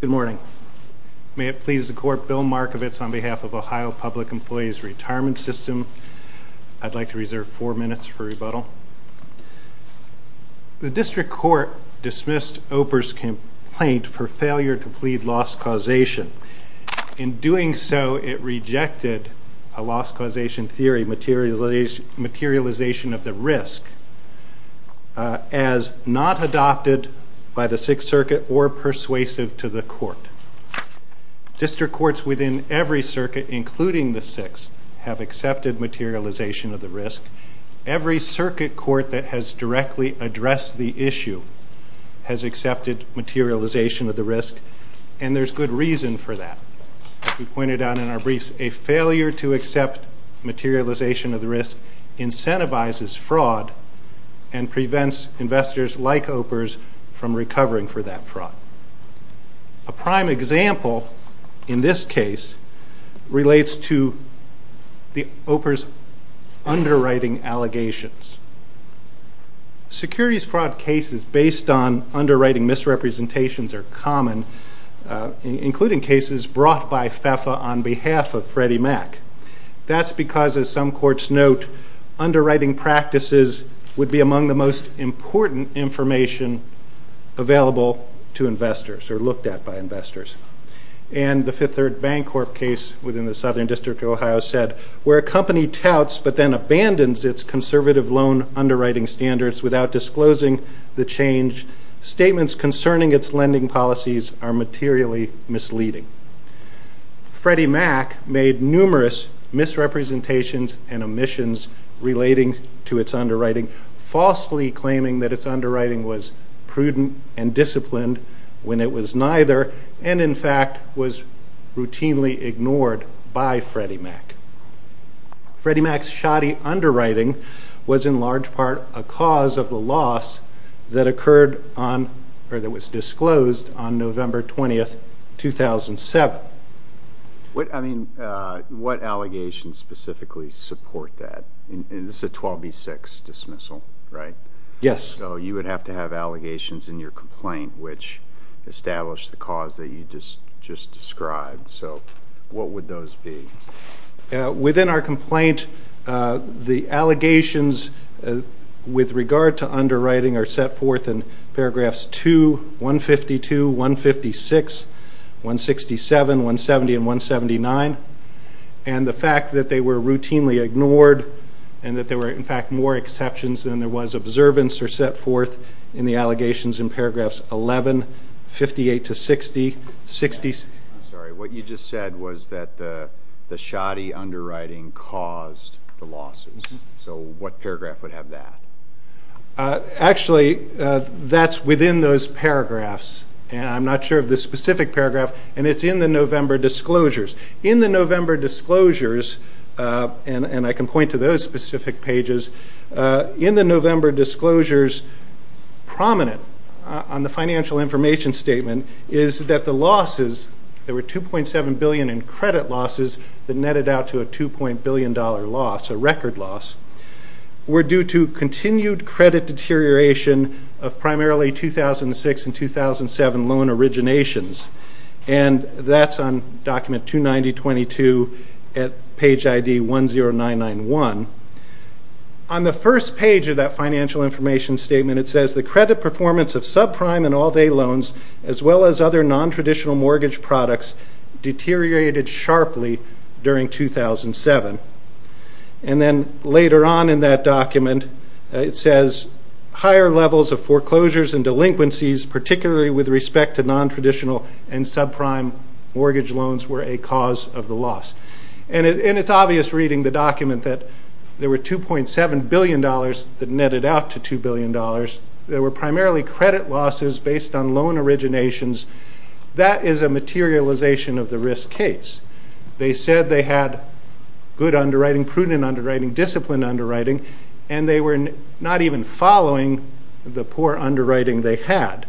Good morning. May it please the court, Bill Markovitz on behalf of Ohio Public Employees Retirement System. I'd like to reserve four minutes for rebuttal. The District Court dismissed OPR's complaint for failure to plead loss causation. In doing so, it rejected a loss causation theory, materialization of the risk, as not adopted by the Sixth Circuit or persuasive to the court. District courts within every circuit, including the Sixth, have accepted materialization of the risk. Every circuit court that has directly addressed the issue has accepted materialization of the risk, and there's good reason for that. As we pointed out in our briefs, a failure to accept materialization of the risk incentivizes fraud and prevents investors like OPR's from recovering for that fraud. A prime example in this case relates to OPR's underwriting allegations. Securities fraud cases based on underwriting misrepresentations are common, including cases brought by FEFA on behalf of Freddie Mac. That's because, as some courts note, underwriting practices would be among the most important information available to investors or looked at by investors. And the Fifth Third Bancorp case within the Southern District of Ohio said, where a company touts but then abandons its conservative loan underwriting standards without disclosing the change, statements concerning its lending policies are materially misleading. Freddie Mac made numerous misrepresentations and omissions relating to its underwriting, falsely claiming that its underwriting was prudent and disciplined when it was neither, and in fact was routinely ignored by Freddie Mac. Freddie Mac's shoddy underwriting was in large part a cause of the loss that occurred on or that was disclosed on November 20th, 2007. I mean, what allegations specifically support that? This is a 12B6 dismissal, right? Yes. So you would have to have allegations in your complaint which establish the cause that you just described. So what would those be? Within our complaint, the allegations with regard to underwriting are set forth in paragraph 2, 152, 156, 167, 170, and 179. And the fact that they were routinely ignored and that there were, in fact, more exceptions than there was observance are set forth in the allegations in paragraphs 11, 58 to 60, 66. I'm sorry. What you just said was that the shoddy underwriting caused the losses. So what paragraph would have that? Actually, that's within those paragraphs, and I'm not sure of the specific paragraph, and it's in the November disclosures. In the November disclosures, and I can point to those specific pages, in the November disclosures, prominent on the financial information statement is that the losses, there were $2.7 billion in credit losses that netted out to a $2.0 billion loss. Continued credit deterioration of primarily 2006 and 2007 loan originations. And that's on document 290.22 at page ID 10991. On the first page of that financial information statement, it says the credit performance of subprime and all-day loans, as well as other nontraditional mortgage products, deteriorated sharply during 2007. And then later on in that document, it says higher levels of foreclosures and delinquencies, particularly with respect to nontraditional and subprime mortgage loans, were a cause of the loss. And it's obvious reading the document that there were $2.7 billion that netted out to $2 billion. There were primarily credit losses based on loan originations. That is a materialization of the risk case. They said they had good underwriting, prudent underwriting, disciplined underwriting, and they were not even following the poor underwriting they had.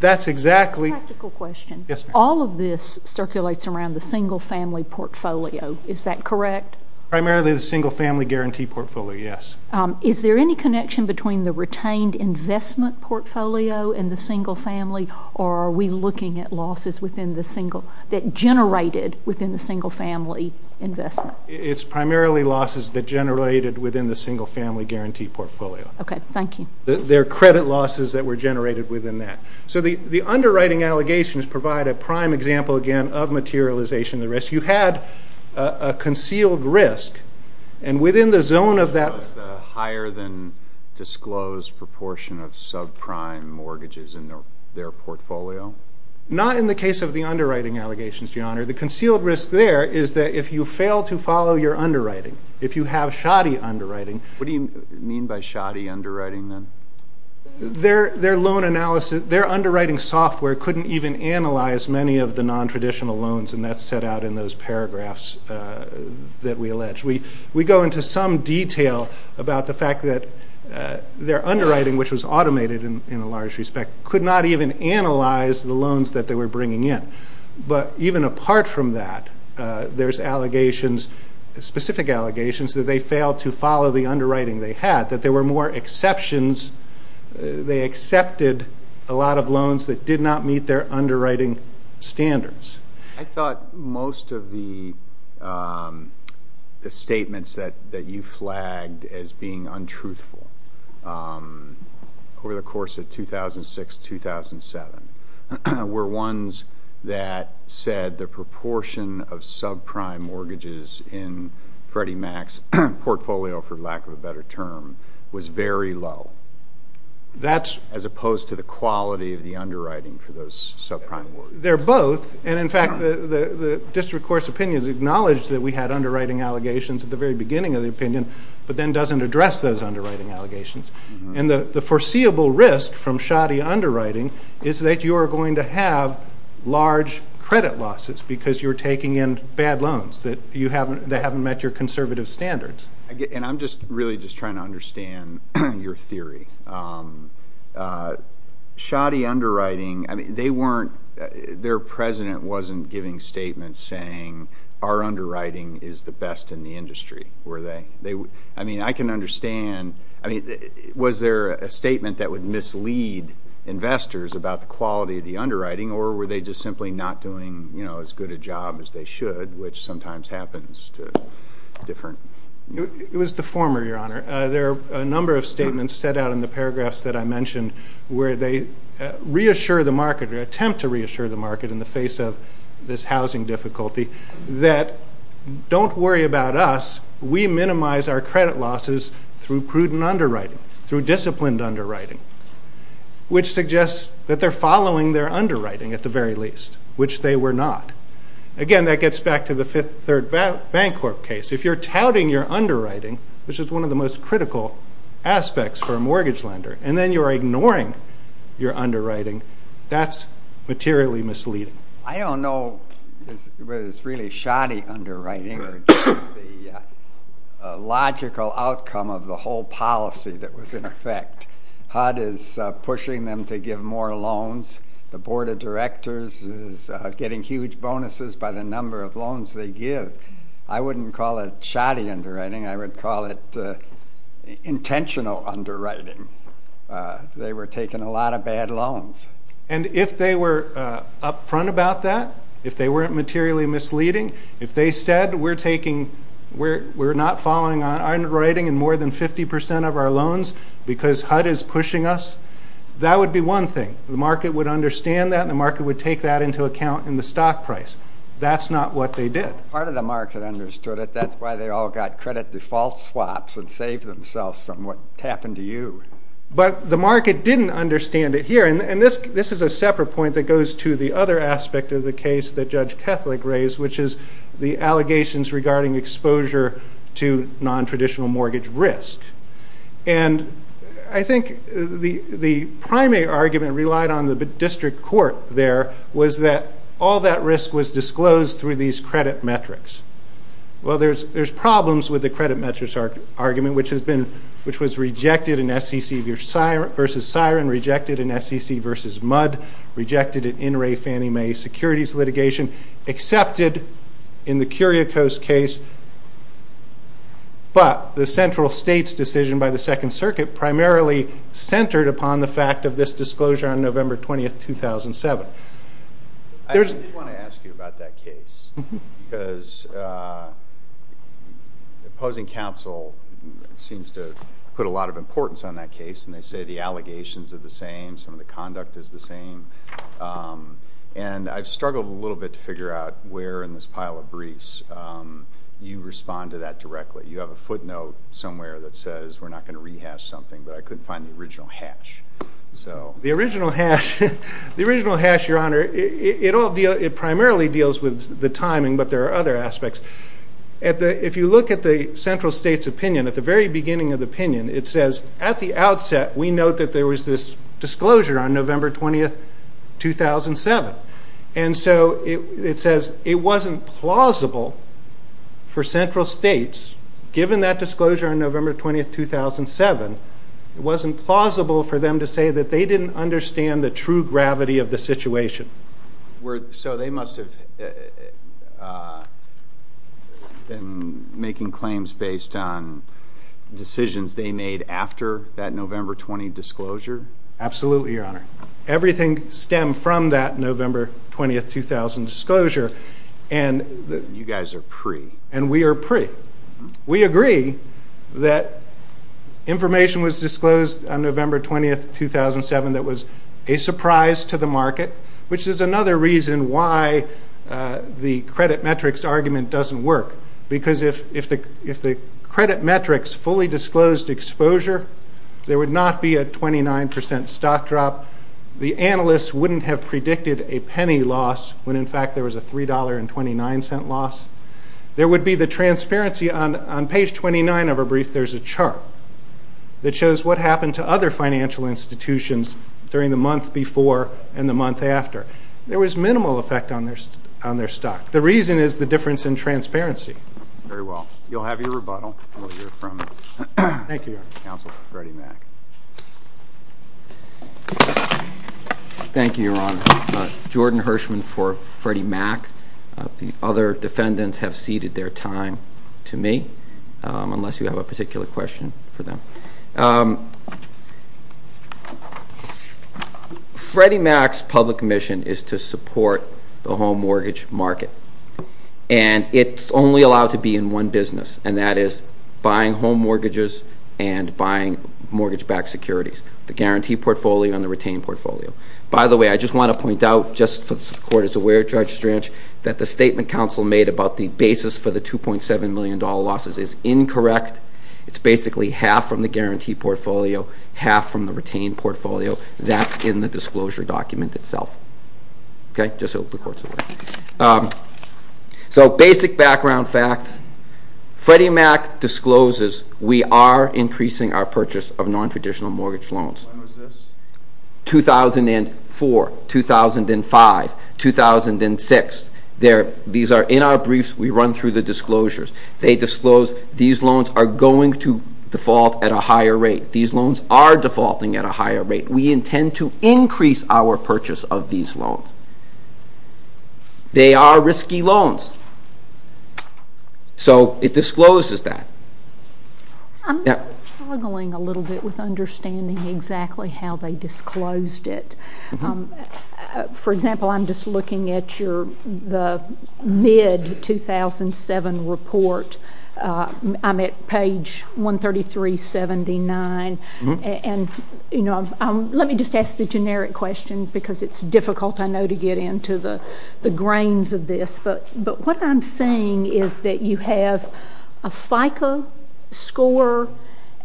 That's exactly – Practical question. Yes, ma'am. All of this circulates around the single-family portfolio. Is that correct? Primarily the single-family guarantee portfolio, yes. Is there any connection between the retained investment portfolio and the single-family or are we looking at losses within the single – that generated within the single-family investment? It's primarily losses that generated within the single-family guarantee portfolio. Okay. Thank you. They're credit losses that were generated within that. So the underwriting allegations provide a prime example, again, of materialization of the risk. You had a concealed risk, and within the zone of that – Was the higher-than-disclosed proportion of subprime mortgages in their portfolio? Not in the case of the underwriting allegations, Your Honor. The concealed risk there is that if you fail to follow your underwriting, if you have shoddy underwriting – What do you mean by shoddy underwriting, then? Their loan analysis – their underwriting software couldn't even analyze many of the nontraditional loans, and that's set out in those paragraphs that we allege. We go into some detail about the fact that their underwriting, which was automated in a large respect, could not even analyze the loans that they were bringing in. But even apart from that, there's allegations – specific allegations that they failed to follow the underwriting they had, that there were more exceptions. They accepted a lot of loans that did not meet their underwriting standards. I thought most of the statements that you flagged as being untruthful over the course of 2006-2007 were ones that said the proportion of subprime mortgages in Freddie Mac's portfolio, for lack of a better term, was very low, as opposed to the quality of the underwriting for those subprime mortgages. They're both. And, in fact, the district court's opinions acknowledged that we had underwriting allegations at the very beginning of the opinion, but then doesn't address those underwriting allegations. And the foreseeable risk from shoddy underwriting is that you are going to have large credit losses because you're taking in bad loans that haven't met your conservative standards. And I'm just really just trying to understand your theory. Shoddy underwriting – I mean, they weren't – their president wasn't giving statements saying our underwriting is the best in the industry, were they? I mean, I can understand – I mean, was there a statement that would mislead investors about the quality of the underwriting, or were they just simply not doing, you know, as good a job as they should, which sometimes happens to different – It was the former, Your Honor. There are a number of statements set out in the paragraphs that I mentioned where they reassure the market, or attempt to reassure the market in the face of this housing difficulty, that don't worry about us. We minimize our credit losses through prudent underwriting, through disciplined underwriting, which suggests that they're following their underwriting at the very least, which they were not. Again, that gets back to the Fifth Third Bancorp case. If you're touting your underwriting, which is one of the most critical aspects for a mortgage lender, and then you're ignoring your underwriting, that's materially misleading. I don't know whether it's really shoddy underwriting or just the logical outcome of the whole policy that was in effect. HUD is pushing them to give more loans. The Board of Directors is getting huge bonuses by the number of loans they give. I wouldn't call it shoddy underwriting. I would call it intentional underwriting. They were taking a lot of bad loans. And if they were up front about that, if they weren't materially misleading, if they said we're taking – we're not following our underwriting in more than 50 percent of our loans because HUD is pushing us, that would be one thing. The market would understand that and the market would take that into account in the stock price. That's not what they did. Part of the market understood it. That's why they all got credit default swaps and saved themselves from what happened to you. But the market didn't understand it here. And this is a separate point that goes to the other aspect of the case that Judge Kethleck raised, which is the allegations regarding exposure to nontraditional mortgage risk. And I think the primary argument relied on the district court there was that all that risk was disclosed through these credit metrics. Well, there's problems with the credit metrics argument, which has been – which was rejected in SEC versus SIREN, rejected in SEC versus MUD, rejected in In re Fannie Mae securities litigation, accepted in the Curiaco's case. But the central state's decision by the Second Circuit primarily centered upon the disclosure on November 20, 2007. I did want to ask you about that case because the opposing counsel seems to put a lot of importance on that case and they say the allegations are the same, some of the conduct is the same. And I've struggled a little bit to figure out where in this pile of briefs you respond to that directly. You have a footnote somewhere that says we're not going to rehash something, but I couldn't find the original hash. The original hash, Your Honor, it primarily deals with the timing, but there are other aspects. If you look at the central state's opinion, at the very beginning of the opinion, it says at the outset we note that there was this disclosure on November 20, 2007. And so it says it wasn't plausible for central states, given that disclosure on November 20, 2007, it wasn't plausible for them to say that they didn't understand the true gravity of the situation. So they must have been making claims based on decisions they made after that November 20 disclosure? Absolutely, Your Honor. Everything stemmed from that November 20, 2000 disclosure. You guys are pre. And we are pre. We agree that information was disclosed on November 20, 2007 that was a surprise to the market, which is another reason why the credit metrics argument doesn't work. Because if the credit metrics fully disclosed exposure, there would not be a 29% stock drop. The analysts wouldn't have predicted a penny loss when, in fact, there was a $3.29 percent loss. There would be the transparency on page 29 of our brief. There's a chart that shows what happened to other financial institutions during the month before and the month after. There was minimal effect on their stock. The reason is the difference in transparency. Very well. You'll have your rebuttal while you're from the Council. Thank you, Your Honor. Jordan Hirschman for Freddie Mac. The other defendants have ceded their time to me, unless you have a particular question for them. Freddie Mac's public mission is to support the home mortgage market. And it's only allowed to be in one business, and buying mortgage-backed securities, the guarantee portfolio and the retained portfolio. By the way, I just want to point out, just so the Court is aware, Judge Strange, that the statement counsel made about the basis for the $2.7 million losses is incorrect. It's basically half from the guarantee portfolio, half from the retained portfolio. That's in the disclosure document itself. So basic background facts. Freddie Mac discloses we are increasing our purchase of non-traditional mortgage loans. When was this? 2004, 2005, 2006. These are in our briefs. We run through the disclosures. They disclose these loans are going to default at a higher rate. These loans are defaulting at a higher rate. We intend to increase our purchase of these loans. They are risky loans. So it discloses that. I'm struggling a little bit with understanding exactly how they disclosed it. For example, I'm just looking at the mid-2007 report. I'm at page 133.79. And let me just ask the generic question because it's difficult, I know, to get into the grains of this. But what I'm seeing is that you have a FICO score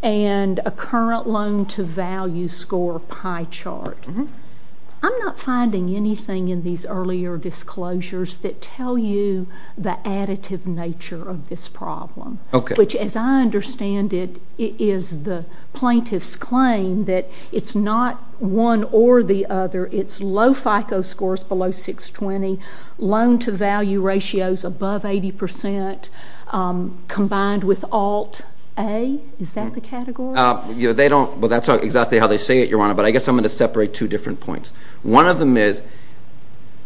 and a current loan-to-value score pie chart. I'm not finding anything in these earlier disclosures that tell you the additive nature of this problem, which, as I understand it, is the plaintiff's claim that it's not one or the other. It's 80% combined with Alt-A. Is that the category? Well, that's exactly how they say it, Your Honor. But I guess I'm going to separate two different points. One of them is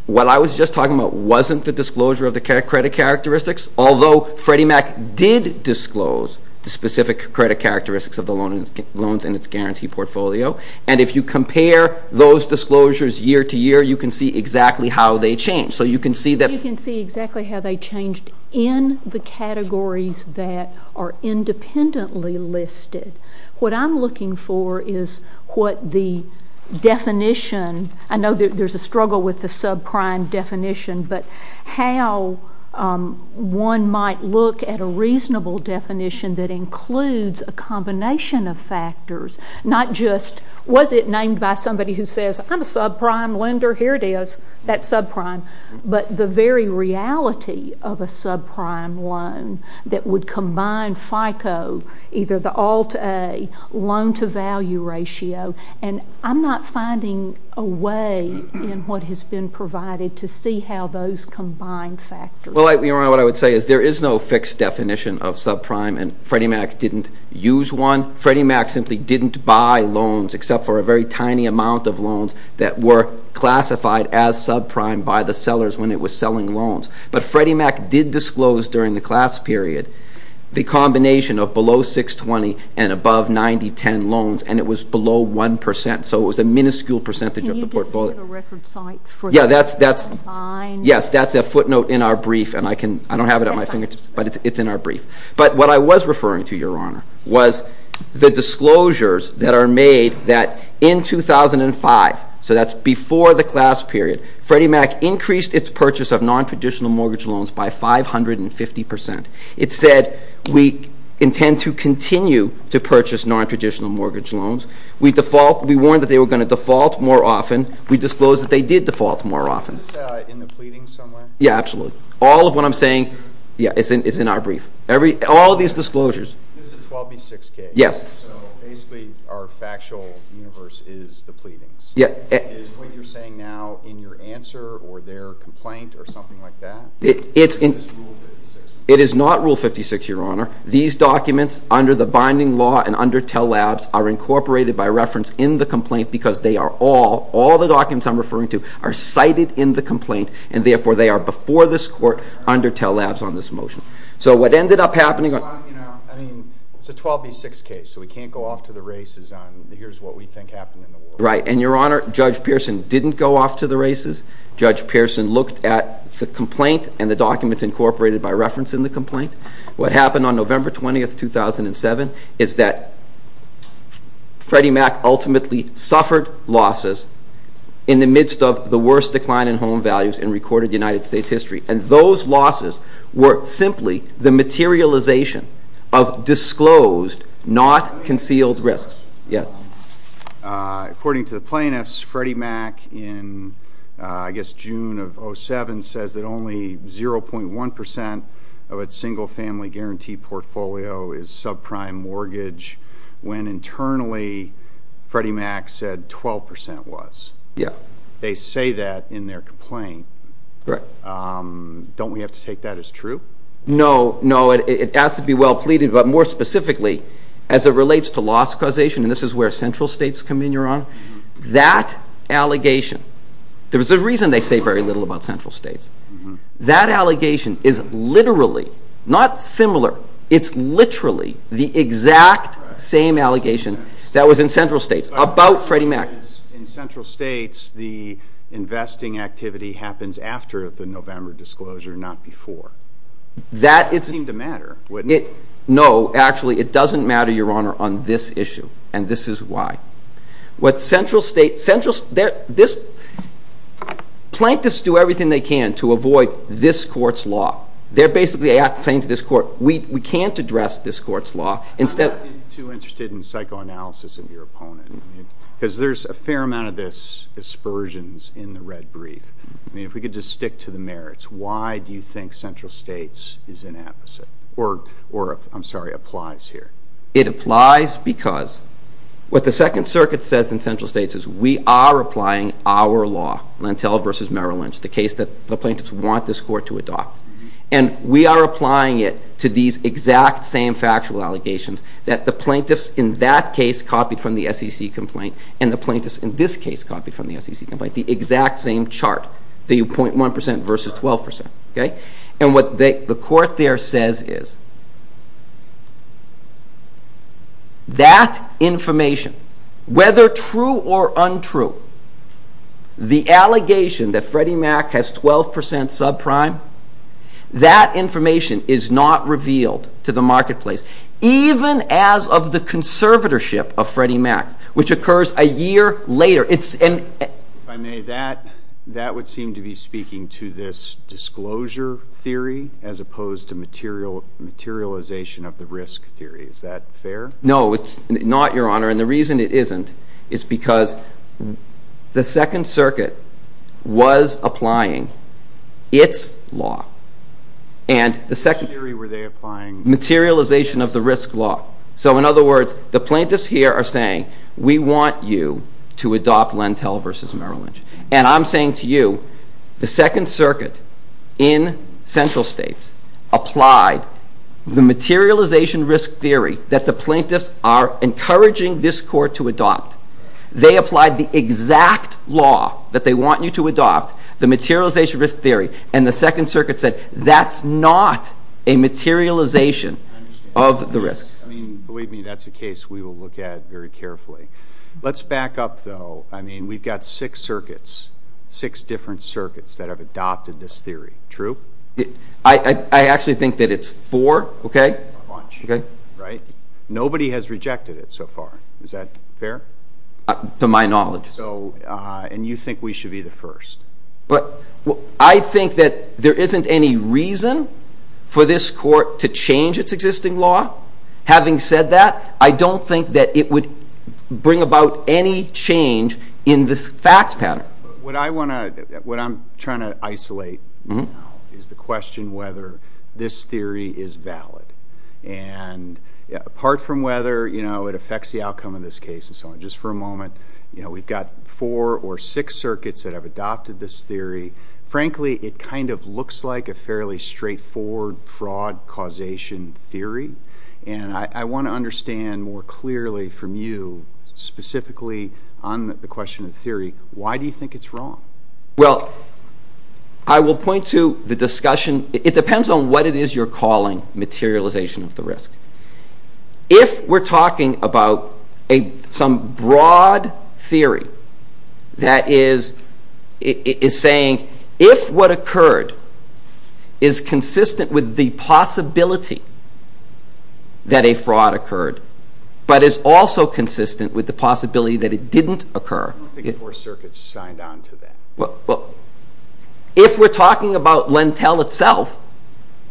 what I was just talking about wasn't the disclosure of the credit characteristics, although Freddie Mac did disclose the specific credit characteristics of the loans in its guarantee portfolio. And if you compare those disclosures year to year, you can see exactly how they change. So you can see that they changed in the categories that are independently listed. What I'm looking for is what the definition, I know there's a struggle with the subprime definition, but how one might look at a reasonable definition that includes a combination of factors, not just was it named by somebody who says, I'm a subprime lender, here it is, that's subprime. But the very reality of a subprime loan that would combine FICO, either the Alt-A, loan-to-value ratio, and I'm not finding a way in what has been provided to see how those combine factors. Well, Your Honor, what I would say is there is no fixed definition of subprime, and Freddie Mac didn't use one. Freddie Mac simply didn't buy loans, except for a very tiny amount of selling loans. But Freddie Mac did disclose during the class period the combination of below $620,000 and above $90,000, $10,000 loans, and it was below 1%. So it was a minuscule percentage of the portfolio. Can you give me the record site for that? Yeah, that's a footnote in our brief, and I don't have it at my fingertips, but it's in our brief. But what I was referring to, Your Honor, was the disclosures that are made that in 2005, so that's before the class period, Freddie Mac increased its purchase of non-traditional mortgage loans by 550%. It said, we intend to continue to purchase non-traditional mortgage loans. We warned that they were going to default more often. We disclosed that they did default more often. Is this in the pleadings somewhere? Yeah, absolutely. All of what I'm saying is in our brief. All of these disclosures. This is a 12B6 case, so basically our factual universe is the pleadings. Is what you're saying now in your answer or their complaint or something like that? It is not Rule 56, Your Honor. These documents under the binding law and under Tell Labs are incorporated by reference in the complaint because they are all, all the documents I'm referring to, are cited in the complaint, and therefore they are before this court under Tell Labs on this motion. So what ended up happening on... I mean, it's a 12B6 case, so we can't go off to the races on here's what we think happened in the war. Right, and Your Honor, Judge Pearson didn't go off to the races. Judge Pearson looked at the complaint and the documents incorporated by reference in the complaint. What happened on November 20, 2007 is that Freddie Mac ultimately suffered losses in the midst of the worst decline in home values in recorded United States history, and those losses were simply the materialization of disclosed, not concealed risks. Yes. According to the plaintiffs, Freddie Mac in, I guess, June of 2007 says that only 0.1% of its single family guarantee portfolio is subprime mortgage, when internally Freddie Mac said 12% was. Yeah. They say that in their complaint. Correct. Don't we have to take that as true? No, no, it has to be well pleaded, but more specifically, as it relates to loss causation, and this is where central states come in, Your Honor, that allegation, there's a reason they say very little about central states. That allegation is literally, not similar, it's literally the exact same allegation that was in central states about Freddie Mac. In central states, the investing activity happens after the November disclosure, not before. That would seem to matter, wouldn't it? No, actually, it doesn't matter, Your Honor, on this issue, and this is why. What central states, central, this, plaintiffs do everything they can to avoid this court's law. They're basically saying to this court, we can't address this court's law. I'm not too interested in psychoanalysis of your opponent, because there's a fair amount of this, aspersions in the red brief. I mean, if we could just stick to the merits, why do you think central states is an opposite, or, I'm sorry, applies here? It applies because what the Second Circuit says in central states is we are applying our law, Lentell v. Merrill Lynch, the case that the plaintiffs want this court to adopt, and we are applying it to these exact same factual allegations that the plaintiffs in that case copied from the SEC complaint, and the plaintiffs in this case copied from the SEC complaint, the exact same chart, the 0.1% versus 12%, okay? And what the court there says is that information, whether true or untrue, the allegation that information is not revealed to the marketplace, even as of the conservatorship of Freddie Mack, which occurs a year later. If I may, that would seem to be speaking to this disclosure theory as opposed to materialization of the risk theory. Is that fair? No, it's not, Your Honor, and the reason it isn't is because the Second Circuit was applying its law, and the Second Circuit was applying materialization of the risk law. So in other words, the plaintiffs here are saying, we want you to adopt Lentell v. Merrill Lynch, and I'm saying to you, the Second Circuit in central states applied the materialization risk theory that the plaintiffs are encouraging this court to adopt. They applied the exact law that they want you to adopt, the materialization risk theory, and the Second Circuit said, that's not a materialization of the risk. I mean, believe me, that's a case we will look at very carefully. Let's back up, though. I mean, we've got six circuits, six different circuits that have adopted this theory. True? I actually think that it's four, okay, right? Nobody has rejected it so far. Is that fair? To my knowledge. And you think we should be the first? I think that there isn't any reason for this court to change its existing law. Having said that, I don't think that it would bring about any change in this fact pattern. What I want to, what I'm trying to isolate now is the question whether this theory is valid. And apart from whether, you know, it affects the outcome of this case and so on, just for a moment, you know, we've got four or six circuits that have adopted this theory. Frankly, it kind of looks like a fairly straightforward fraud causation theory, and I want to understand more clearly from you, specifically on the question of theory, why do you think it's wrong? Well, I will point to the discussion, it depends on what it is you're calling materialization of the risk. If we're talking about some broad theory that is saying if what occurred is consistent with the possibility that a fraud occurred, but is also consistent with the possibility that it didn't occur. I don't think the four circuits signed on to that. If we're talking about Lentel itself,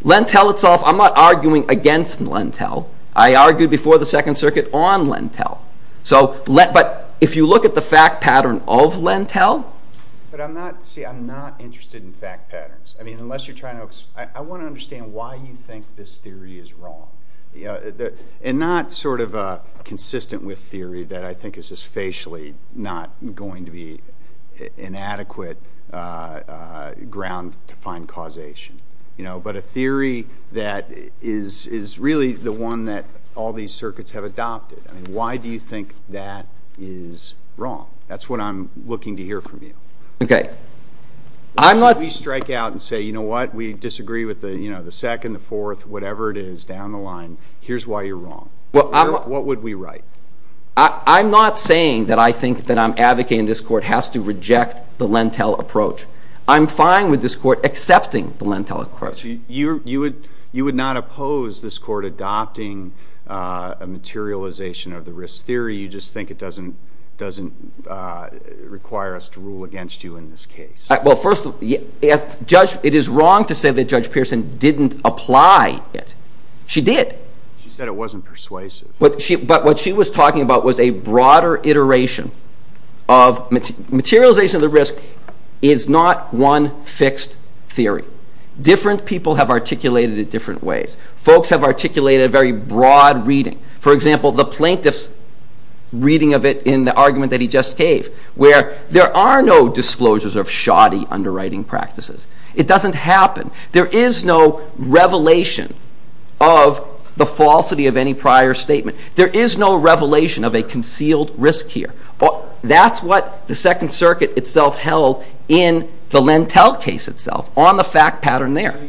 Lentel itself, I'm not arguing against Lentel, I argued before the Second Circuit on Lentel. So, but if you look at the fact pattern of Lentel. But I'm not, see, I'm not interested in fact patterns. I mean, unless you're trying to, I want to understand why you think this theory is wrong. And not sort of consistent with the possibility that it's not going to be an adequate ground to find causation. But a theory that is really the one that all these circuits have adopted. I mean, why do you think that is wrong? That's what I'm looking to hear from you. Okay, I'm not. We strike out and say, you know what, we disagree with the second, the fourth, whatever it is down the line, here's why you're wrong. What would we write? I'm not saying that I think that I'm advocating this court has to reject the Lentel approach. I'm fine with this court accepting the Lentel approach. You would not oppose this court adopting a materialization of the risk theory, you just think it doesn't require us to rule against you in this case. Well, first of all, it is wrong to say that Judge Pearson didn't apply it. She did. She said it wasn't persuasive. But what she was talking about was a broader iteration of materialization of the risk is not one fixed theory. Different people have articulated it different ways. Folks have articulated a very broad reading. For example, the plaintiff's reading of it in the argument that he just gave, where there are no disclosures of shoddy underwriting practices. It doesn't happen. There is no revelation of the falsity of any prior statement. There is no revelation of a concealed risk here. That's what the Second Circuit itself held in the Lentel case itself, on the fact pattern there.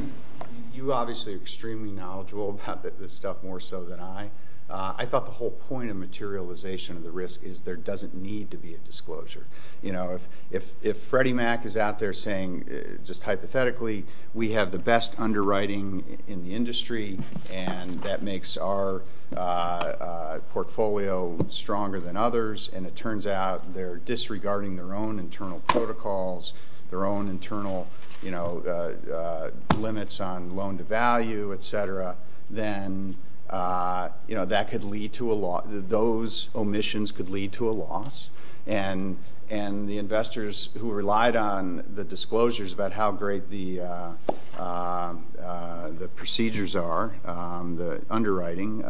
You obviously are extremely knowledgeable about this stuff more so than I. I thought the whole point of materialization of the risk is there doesn't need to be a disclosure. If Freddie Mac is out there saying, just hypothetically, we have the best underwriting in the industry and that makes our portfolio stronger than others, and it turns out they are disregarding their own internal protocols, their own internal limits on loan-to-value, et cetera, then those omissions could lead to a loss. And the investors who relied on the disclosures about how great the procedures are, the underwriting,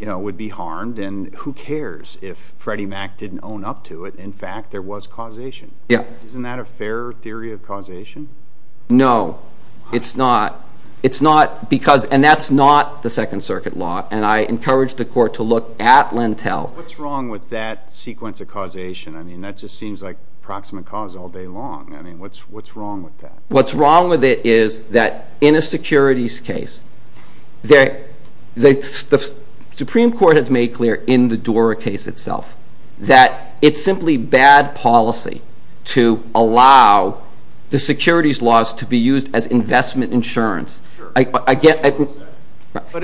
would be harmed. And who cares if Freddie Mac didn't own up to it? In fact, there was causation. Isn't that a fair theory of causation? No. It's not. And that's not the Second Circuit law. And I encourage the Court to look at Lentel. What's wrong with that sequence of causation? I mean, that just seems like proximate cause all day long. I mean, what's wrong with that? What's wrong with it is that in a securities case, the Supreme Court has made clear in the DORA case itself that it's simply bad policy to allow the securities laws to be used as investment insurance. But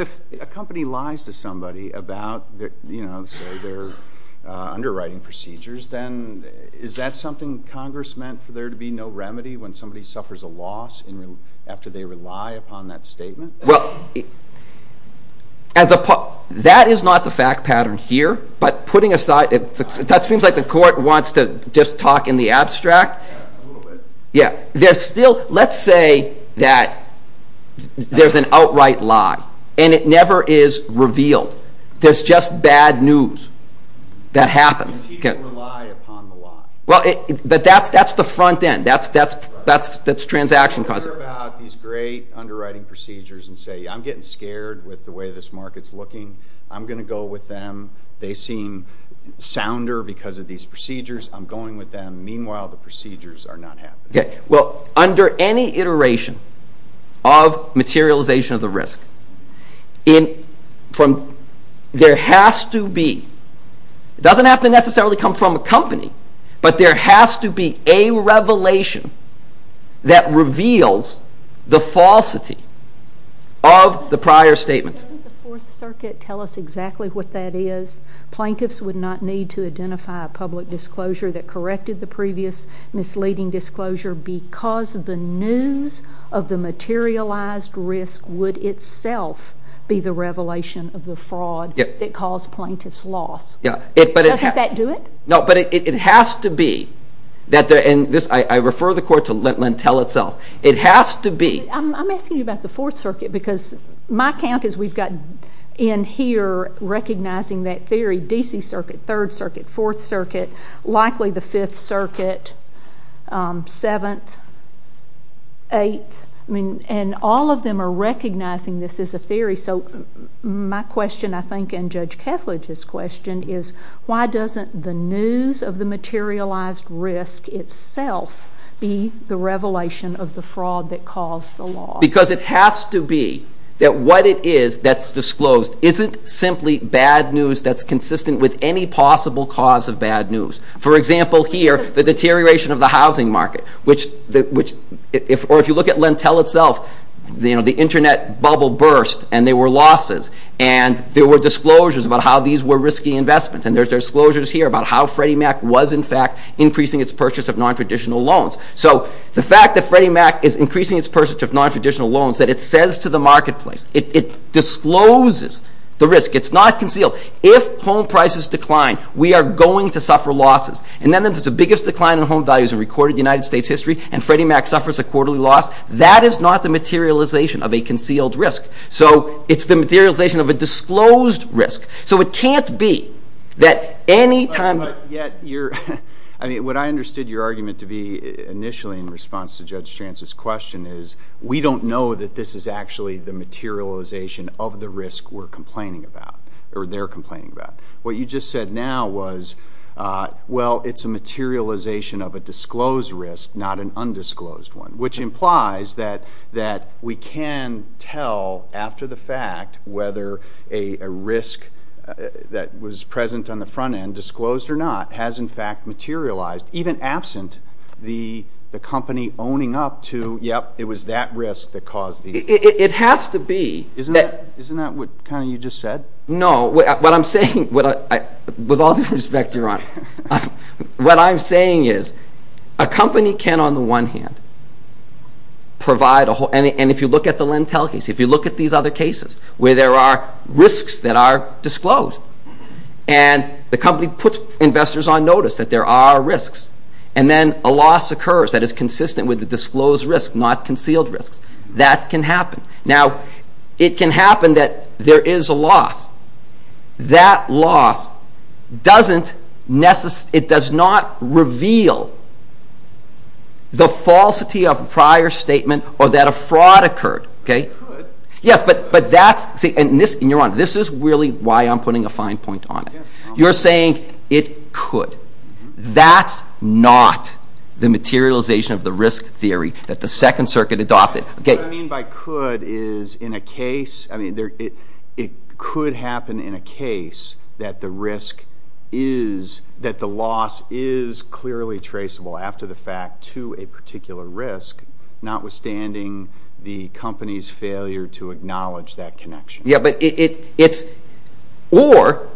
if a company lies to somebody about, say, their underwriting procedures, then is that something Congress meant for there to be no remedy when somebody suffers a loss after they rely upon that statement? Well, that is not the fact pattern here, but putting aside—it seems like the Court wants to just talk in the abstract. Let's say that there's an outright lie, and it never is revealed. There's just bad news that happens. And he didn't rely upon the lie. But that's the front end. That's transaction causation. You hear about these great underwriting procedures and say, I'm getting scared with the way this is. I'm going with them. Meanwhile, the procedures are not happening. Okay. Well, under any iteration of materialization of the risk, there has to be—it doesn't have to necessarily come from a company, but there has to be a revelation that reveals the falsity of the prior statements. Doesn't the Fourth Circuit tell us exactly what that is? Plaintiffs would not need to that corrected the previous misleading disclosure because the news of the materialized risk would itself be the revelation of the fraud that caused plaintiffs' loss. Yeah. Doesn't that do it? No, but it has to be. I refer the Court to Lentell itself. It has to be. I'm asking you about the Fourth Circuit because my count is we've got in here recognizing that theory, D.C. Circuit, Third Circuit, Fourth Circuit, likely the Fifth Circuit, Seventh, Eighth. And all of them are recognizing this as a theory. So my question, I think, and Judge Kethledge's question is, why doesn't the news of the materialized risk itself be the revelation of the fraud that caused the loss? Because it has to be that what it is that's disclosed isn't simply bad news that's consistent with any possible cause of bad news. For example, here, the deterioration of the housing market, or if you look at Lentell itself, the Internet bubble burst and there were losses. And there were disclosures about how these were risky investments, and there's disclosures here about how Freddie Mac was in fact increasing its purchase of nontraditional loans. So the fact that Freddie Mac is increasing its purchase of nontraditional loans, that it says to the marketplace, it discloses the risk. It's not concealed. If home prices decline, we are going to suffer losses. And then there's the biggest decline in home values in recorded United States history, and Freddie Mac suffers a quarterly loss. That is not the materialization of a concealed risk. So it's the materialization of a disclosed risk. So it can't be that any time- But yet, what I understood your argument to be initially in response to Judge Strantz's question is, we don't know that this is actually the materialization of the risk we're complaining about, or they're complaining about. What you just said now was, well, it's a materialization of a disclosed risk, not an undisclosed one, which implies that we can tell after the fact whether a risk that was present on the front end, disclosed or not, has in fact materialized, even absent the company owning up to, yep, it was that risk that caused the- It has to be- Isn't that what kind of you just said? No. What I'm saying, with all due respect, Your Honor, what I'm saying is, a company can on the one hand provide a whole- And if you look at the Lentel case, if you look at these other cases, where there are risks that are disclosed, and the company puts investors on notice that there are risks, and then a loss occurs that is consistent with the disclosed risk, not concealed risks, that can happen. Now, it can happen that there is a loss. That loss doesn't necessarily- It does not reveal the falsity of a prior statement or that a But that's, and Your Honor, this is really why I'm putting a fine point on it. You're saying it could. That's not the materialization of the risk theory that the Second Circuit adopted. What I mean by could is, in a case, it could happen in a case that the risk is, that the loss is clearly traceable after the fact to a particular risk, notwithstanding the company's failure to acknowledge that connection. Yeah, but it's, or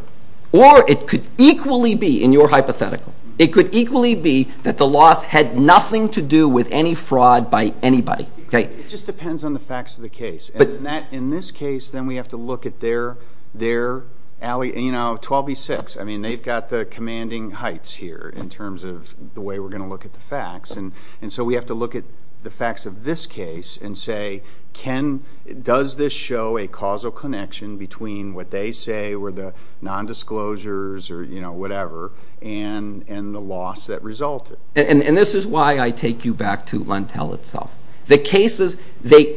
it could equally be, in your hypothetical, it could equally be that the loss had nothing to do with any fraud by anybody. It just depends on the facts of the case. In this case, then we have to look at their 12B6. I mean, they've got the commanding heights here in terms of the way we're going to look at the facts, and so we have to look at the facts of this case and say, can, does this show a causal connection between what they say were the nondisclosures or, you know, whatever, and the loss that resulted? And this is why I take you back to Lentel itself. The cases, they,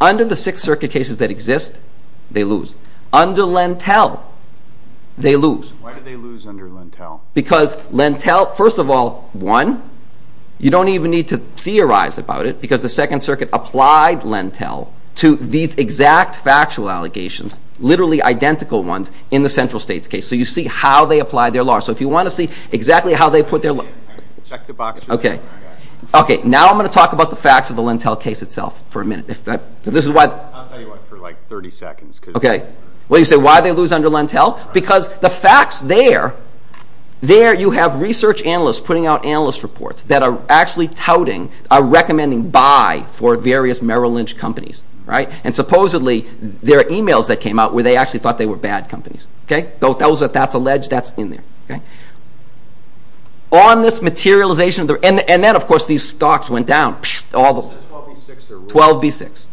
under the Sixth Circuit cases that exist, they lose. Under Lentel, they lose. Why do they lose under Lentel? Because Lentel, first of all, won. You don't even need to theorize about it, because the Second Circuit applied Lentel to these exact factual allegations, literally identical ones, in the central states case. So you see how they apply their law. So if you want to see exactly how they put their law. Check the box. Okay. Okay, now I'm going to talk about the facts of the Lentel case itself for a minute. If that, this is why. I'll tell you why for like 30 seconds. Okay. Well, you say, why do they lose under Lentel? Because the facts there, there you have research analysts putting out analyst reports that are actually touting, are recommending buy for various Merrill Lynch companies, right? And supposedly, there are emails that came out where they actually thought they were bad companies, okay? That's alleged, that's in there, okay? On this materialization, and then of course these stocks went down, all 12B6.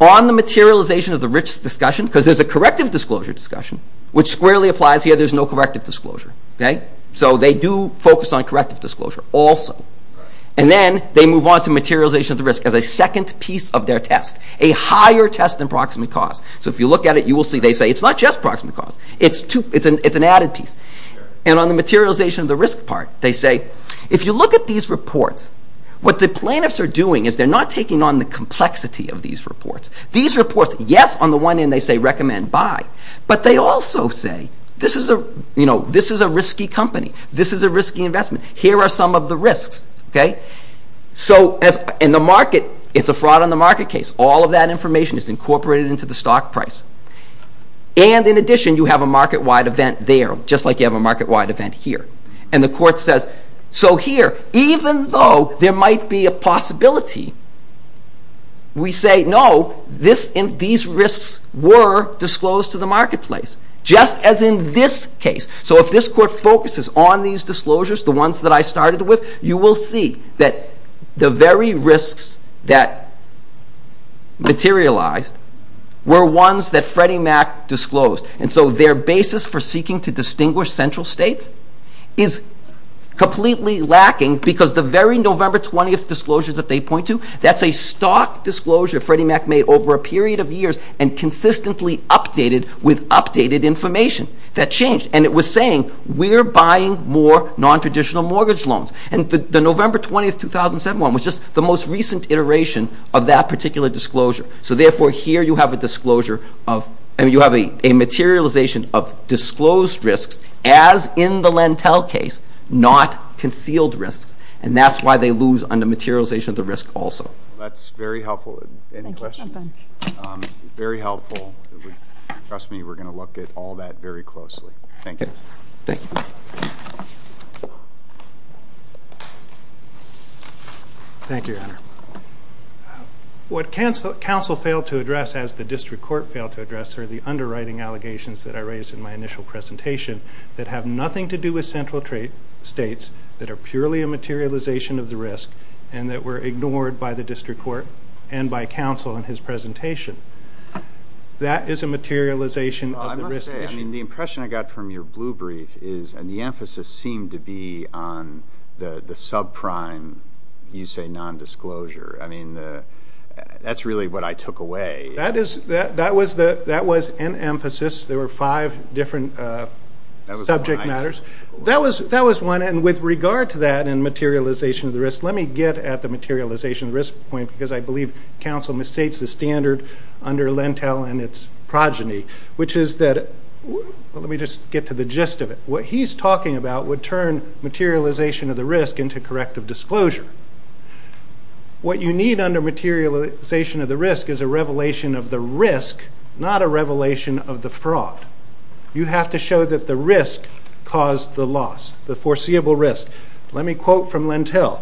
On the materialization of the risk discussion, because there's a corrective disclosure discussion, which squarely applies here, there's no corrective disclosure, okay? So they do focus on corrective disclosure also. And then they move on to materialization of the risk as a second piece of their test, a higher test than proximate cause. So if you look at it, you will see they say it's not just proximate cause, it's an added piece. And on the materialization of the risk part, they say, if you look at these reports, what the plaintiffs are doing is they're not taking on the complexity of these reports. These reports, yes, on the one end they say recommend buy, but they also say, this is a risky company, this is a risky investment, here are some of the risks, okay? So in the market, it's a fraud on the market case. All of that information is incorporated into the stock price. And in addition, you have a market-wide event there, just like you have a market-wide event here. And the court says, so here, even though there might be a possibility, we say no, these risks were disclosed to the marketplace, just as in this case. So if this court focuses on these disclosures, the ones that I started with, you will see that the very risks that materialized were the ones that Freddie Mac disclosed. And so their basis for seeking to distinguish central states is completely lacking because the very November 20th disclosures that they point to, that's a stock disclosure Freddie Mac made over a period of years and consistently updated with updated information. That changed. And it was saying, we're buying more non-traditional mortgage loans. And the November 20th, 2007 one was just the most recent iteration of that particular disclosure. So therefore, here you have a materialization of disclosed risks as in the Lentel case, not concealed risks. And that's why they lose on the materialization of the risk also. That's very helpful. Any questions? Very helpful. Trust me, we're going to look at all that very closely. Thank you. What counsel failed to address, as the district court failed to address, are the underwriting allegations that I raised in my initial presentation that have nothing to do with central states that are purely a materialization of the risk and that were ignored by the district court and by counsel in his presentation. That is a materialization of the risk issue. I must say, the impression I got from your blue brief is, and the emphasis seemed to be on the subprime, you say non-disclosure. I mean, that's really what I took away. That was an emphasis. There were five different subject matters. That was one. And with regard to that and materialization of the risk, let me get at the materialization of the risk point, because I believe counsel mistakes the standard under Lentel and its progeny, which is that, let me just get to the gist of it, what he's talking about would turn materialization of the risk into corrective disclosure. What you need under materialization of the risk is a revelation of the risk, not a revelation of the fraud. You have to show that the risk caused the loss, the foreseeable risk. Let me quote from Lentel,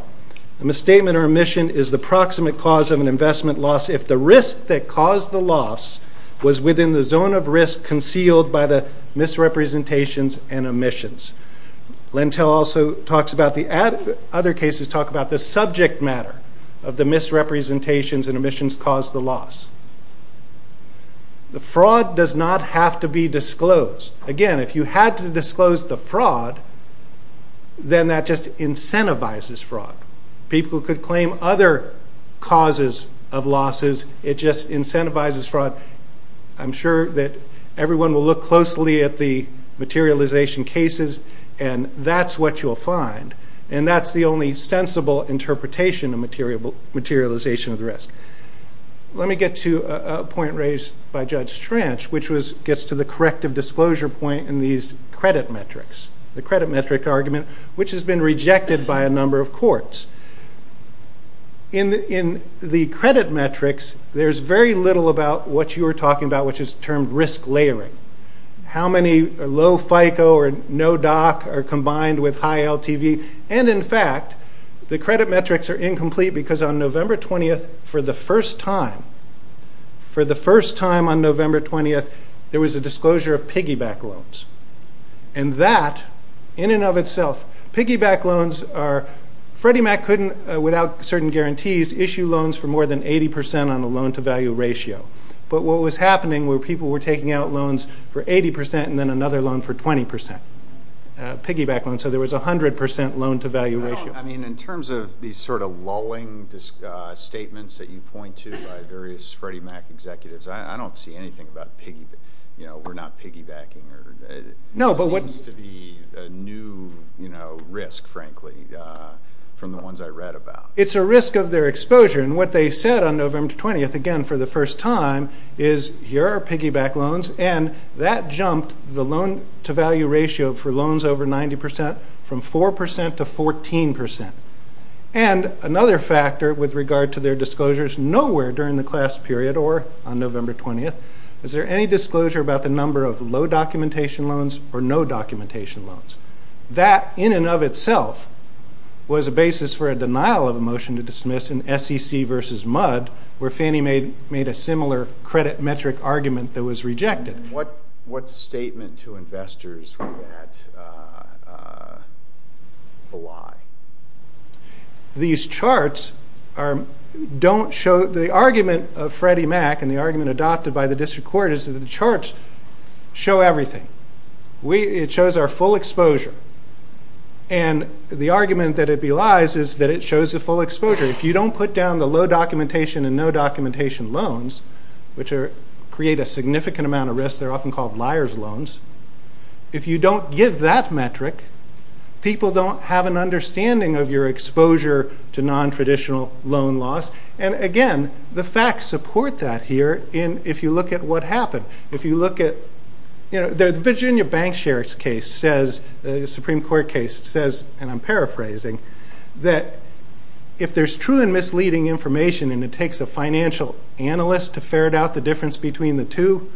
a misstatement or omission is the proximate cause of an investment loss if the risk that caused the loss was within the zone of risk concealed by the misrepresentations and omissions. Lentel also talks about the, other cases talk about the subject matter of the misrepresentations and omissions caused the loss. The fraud does not have to be disclosed. Again, if you had to disclose the fraud, then that just incentivizes fraud. People could claim other causes of losses, it just incentivizes fraud. I'm sure that everyone will look closely at the materialization cases and that's what you'll find, and that's the only sensible interpretation of materialization of the risk. Let me get to a point raised by Judge Trench, which gets to the corrective disclosure point in these credit metrics, the credit metric argument, which has been rejected by a number of courts. In the credit metrics, there's very little about what you were talking about, which is termed risk layering. How many low FICO or no DOC are combined with high LTV, and in fact, the credit metrics are incomplete because on November 20th, for the first time, for the first time on November 20th, there was a disclosure of piggyback loans, and that, in and of itself, piggyback loans are, Freddie Mac couldn't, without certain guarantees, issue loans for more than 80% on the loan to value ratio, but what was happening were people were taking out loans for 80% and then another loan for 20%, piggyback loans, so there was 100% loan to value ratio. I mean, in terms of these sort of lulling statements that you point to by various Freddie Mac executives, I don't see anything about, you know, we're not piggybacking, or it seems to be a new, you know, risk, frankly, from the ones I read about. It's a risk of their exposure, and what they said on November 20th, again, for the first time, is here are piggyback loans, and that jumped the loan to value ratio for loans over 90%, from 4% to 14%, and another factor with regard to their disclosures, nowhere during the class period, or on November 20th, is there any disclosure about the number of low documentation loans or no documentation loans? That in and of itself was a basis for a denial of a motion to dismiss in SEC versus Mudd, where Fannie made a similar credit metric argument that was rejected. And what statement to investors was that a lie? These charts don't show the argument of Freddie Mac, and the argument adopted by the district court is that the charts show everything. It shows our full exposure, and the argument that it be lies is that it shows the full exposure. If you don't put down the low documentation and no documentation loans, which create a bias, they're often called liar's loans. If you don't give that metric, people don't have an understanding of your exposure to nontraditional loan loss, and again, the facts support that here if you look at what happened. If you look at the Virginia Bank Sheriff's case says, the Supreme Court case says, and I'm paraphrasing, that if there's true and misleading information and it takes a financial analyst to ferret out the difference between the two,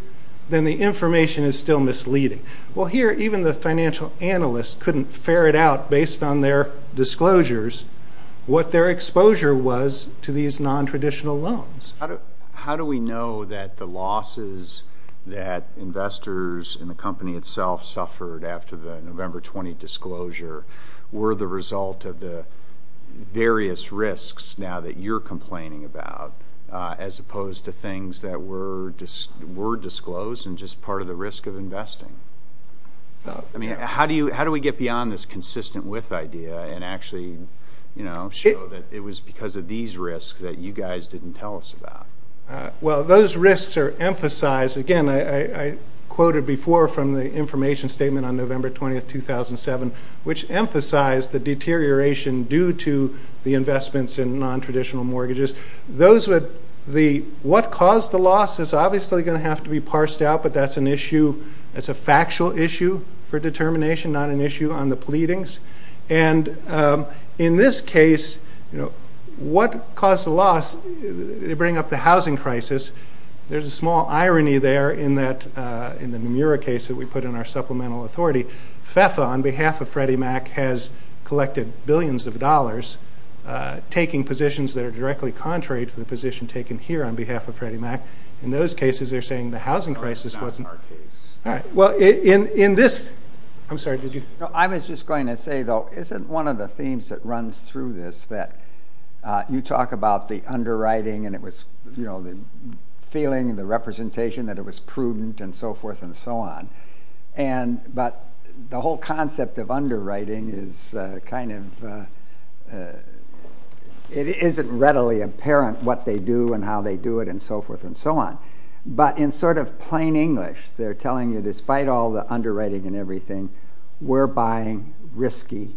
then the information is still misleading. Well, here even the financial analyst couldn't ferret out based on their disclosures what their exposure was to these nontraditional loans. How do we know that the losses that investors and the company itself suffered after the November 20 disclosure were the result of the various risks now that you're complaining about as opposed to things that were disclosed and just part of the risk of investing? How do we get beyond this consistent with idea and actually show that it was because of these risks that you guys didn't tell us about? Well, those risks are emphasized, again, I quoted before from the information statement on November 20, 2007, which emphasized the deterioration due to the investments in nontraditional mortgages. What caused the loss is obviously going to have to be parsed out, but that's an issue, it's a factual issue for determination, not an issue on the pleadings. In this case, what caused the loss, they bring up the housing crisis. There's a small irony there in the Murrah case that we put in our supplemental authority. behalf of Freddie Mac has collected billions of dollars, taking positions that are directly contrary to the position taken here on behalf of Freddie Mac. In those cases, they're saying the housing crisis wasn't... That was not our case. All right. Well, in this... I'm sorry, did you... I was just going to say, though, isn't one of the themes that runs through this that you talk about the underwriting and it was the feeling and the representation that it was prudent and so forth and so on, but the whole concept of underwriting is kind of... It isn't readily apparent what they do and how they do it and so forth and so on, but in sort of plain English, they're telling you despite all the underwriting and everything, we're buying risky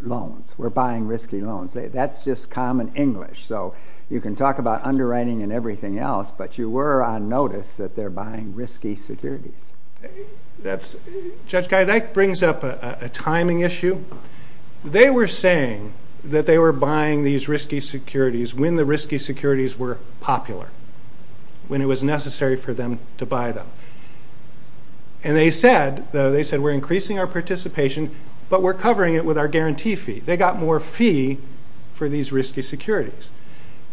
loans, we're buying risky loans. That's just common English, so you can talk about underwriting and everything else, but you were on notice that they're buying risky securities. Judge Geideck brings up a timing issue. They were saying that they were buying these risky securities when the risky securities were popular, when it was necessary for them to buy them, and they said, though, they said we're increasing our participation, but we're covering it with our guarantee fee. They got more fee for these risky securities,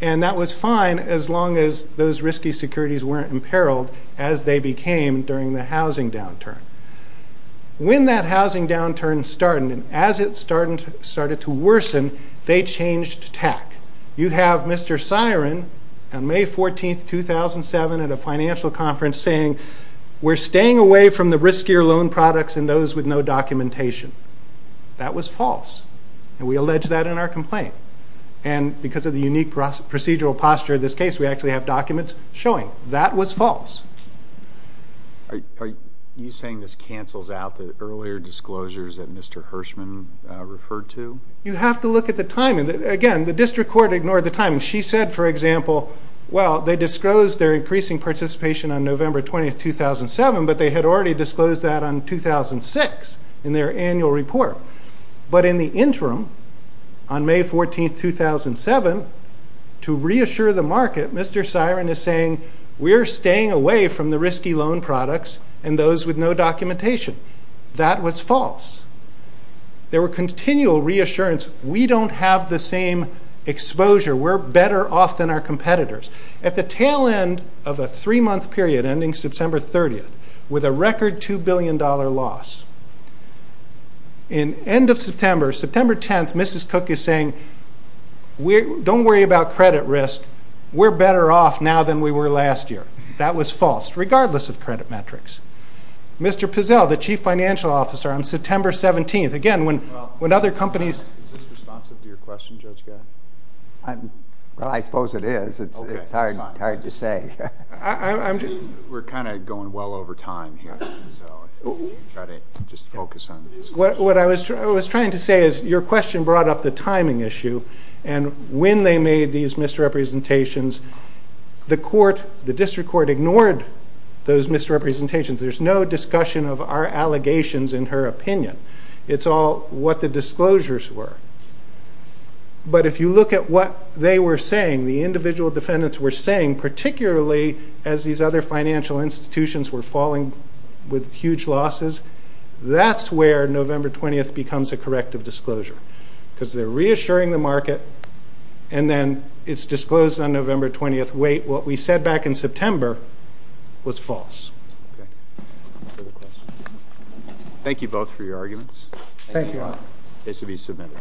and that was fine as long as those risky securities weren't imperiled as they became during the housing downturn. When that housing downturn started and as it started to worsen, they changed tack. You have Mr. Siren on May 14th, 2007 at a financial conference saying, we're staying away from the riskier loan products and those with no documentation. That was false, and we allege that in our complaint, and because of the unique procedural posture of this case, we actually have documents showing that was false. Are you saying this cancels out the earlier disclosures that Mr. Hirshman referred to? You have to look at the timing. Again, the district court ignored the timing. She said, for example, well, they disclosed their increasing participation on November 20th, 2007, but they had already disclosed that on 2006 in their annual report. But in the interim, on May 14th, 2007, to reassure the market, Mr. Siren is saying, we're staying away from the risky loan products and those with no documentation. That was false. There were continual reassurance. We don't have the same exposure. We're better off than our competitors. At the tail end of a three-month period, ending September 30th, with a record $2 billion loss, in end of September, September 10th, Mrs. Cook is saying, don't worry about credit risk. We're better off now than we were last year. That was false, regardless of credit metrics. Mr. Pizzell, the chief financial officer, on September 17th, again, when other companies Is this responsive to your question, Judge Gatton? Well, I suppose it is. It's hard to say. We're kind of going well over time here, so I'll try to just focus on the disclosures. What I was trying to say is, your question brought up the timing issue, and when they made these misrepresentations, the court, the district court ignored those misrepresentations. There's no discussion of our allegations in her opinion. It's all what the disclosures were. But, if you look at what they were saying, the individual defendants were saying, particularly as these other financial institutions were falling with huge losses, that's where November 20th becomes a corrective disclosure, because they're reassuring the market, and then it's disclosed on November 20th, wait, what we said back in September was false. Thank you both for your arguments. Thank you, Your Honor. This will be submitted.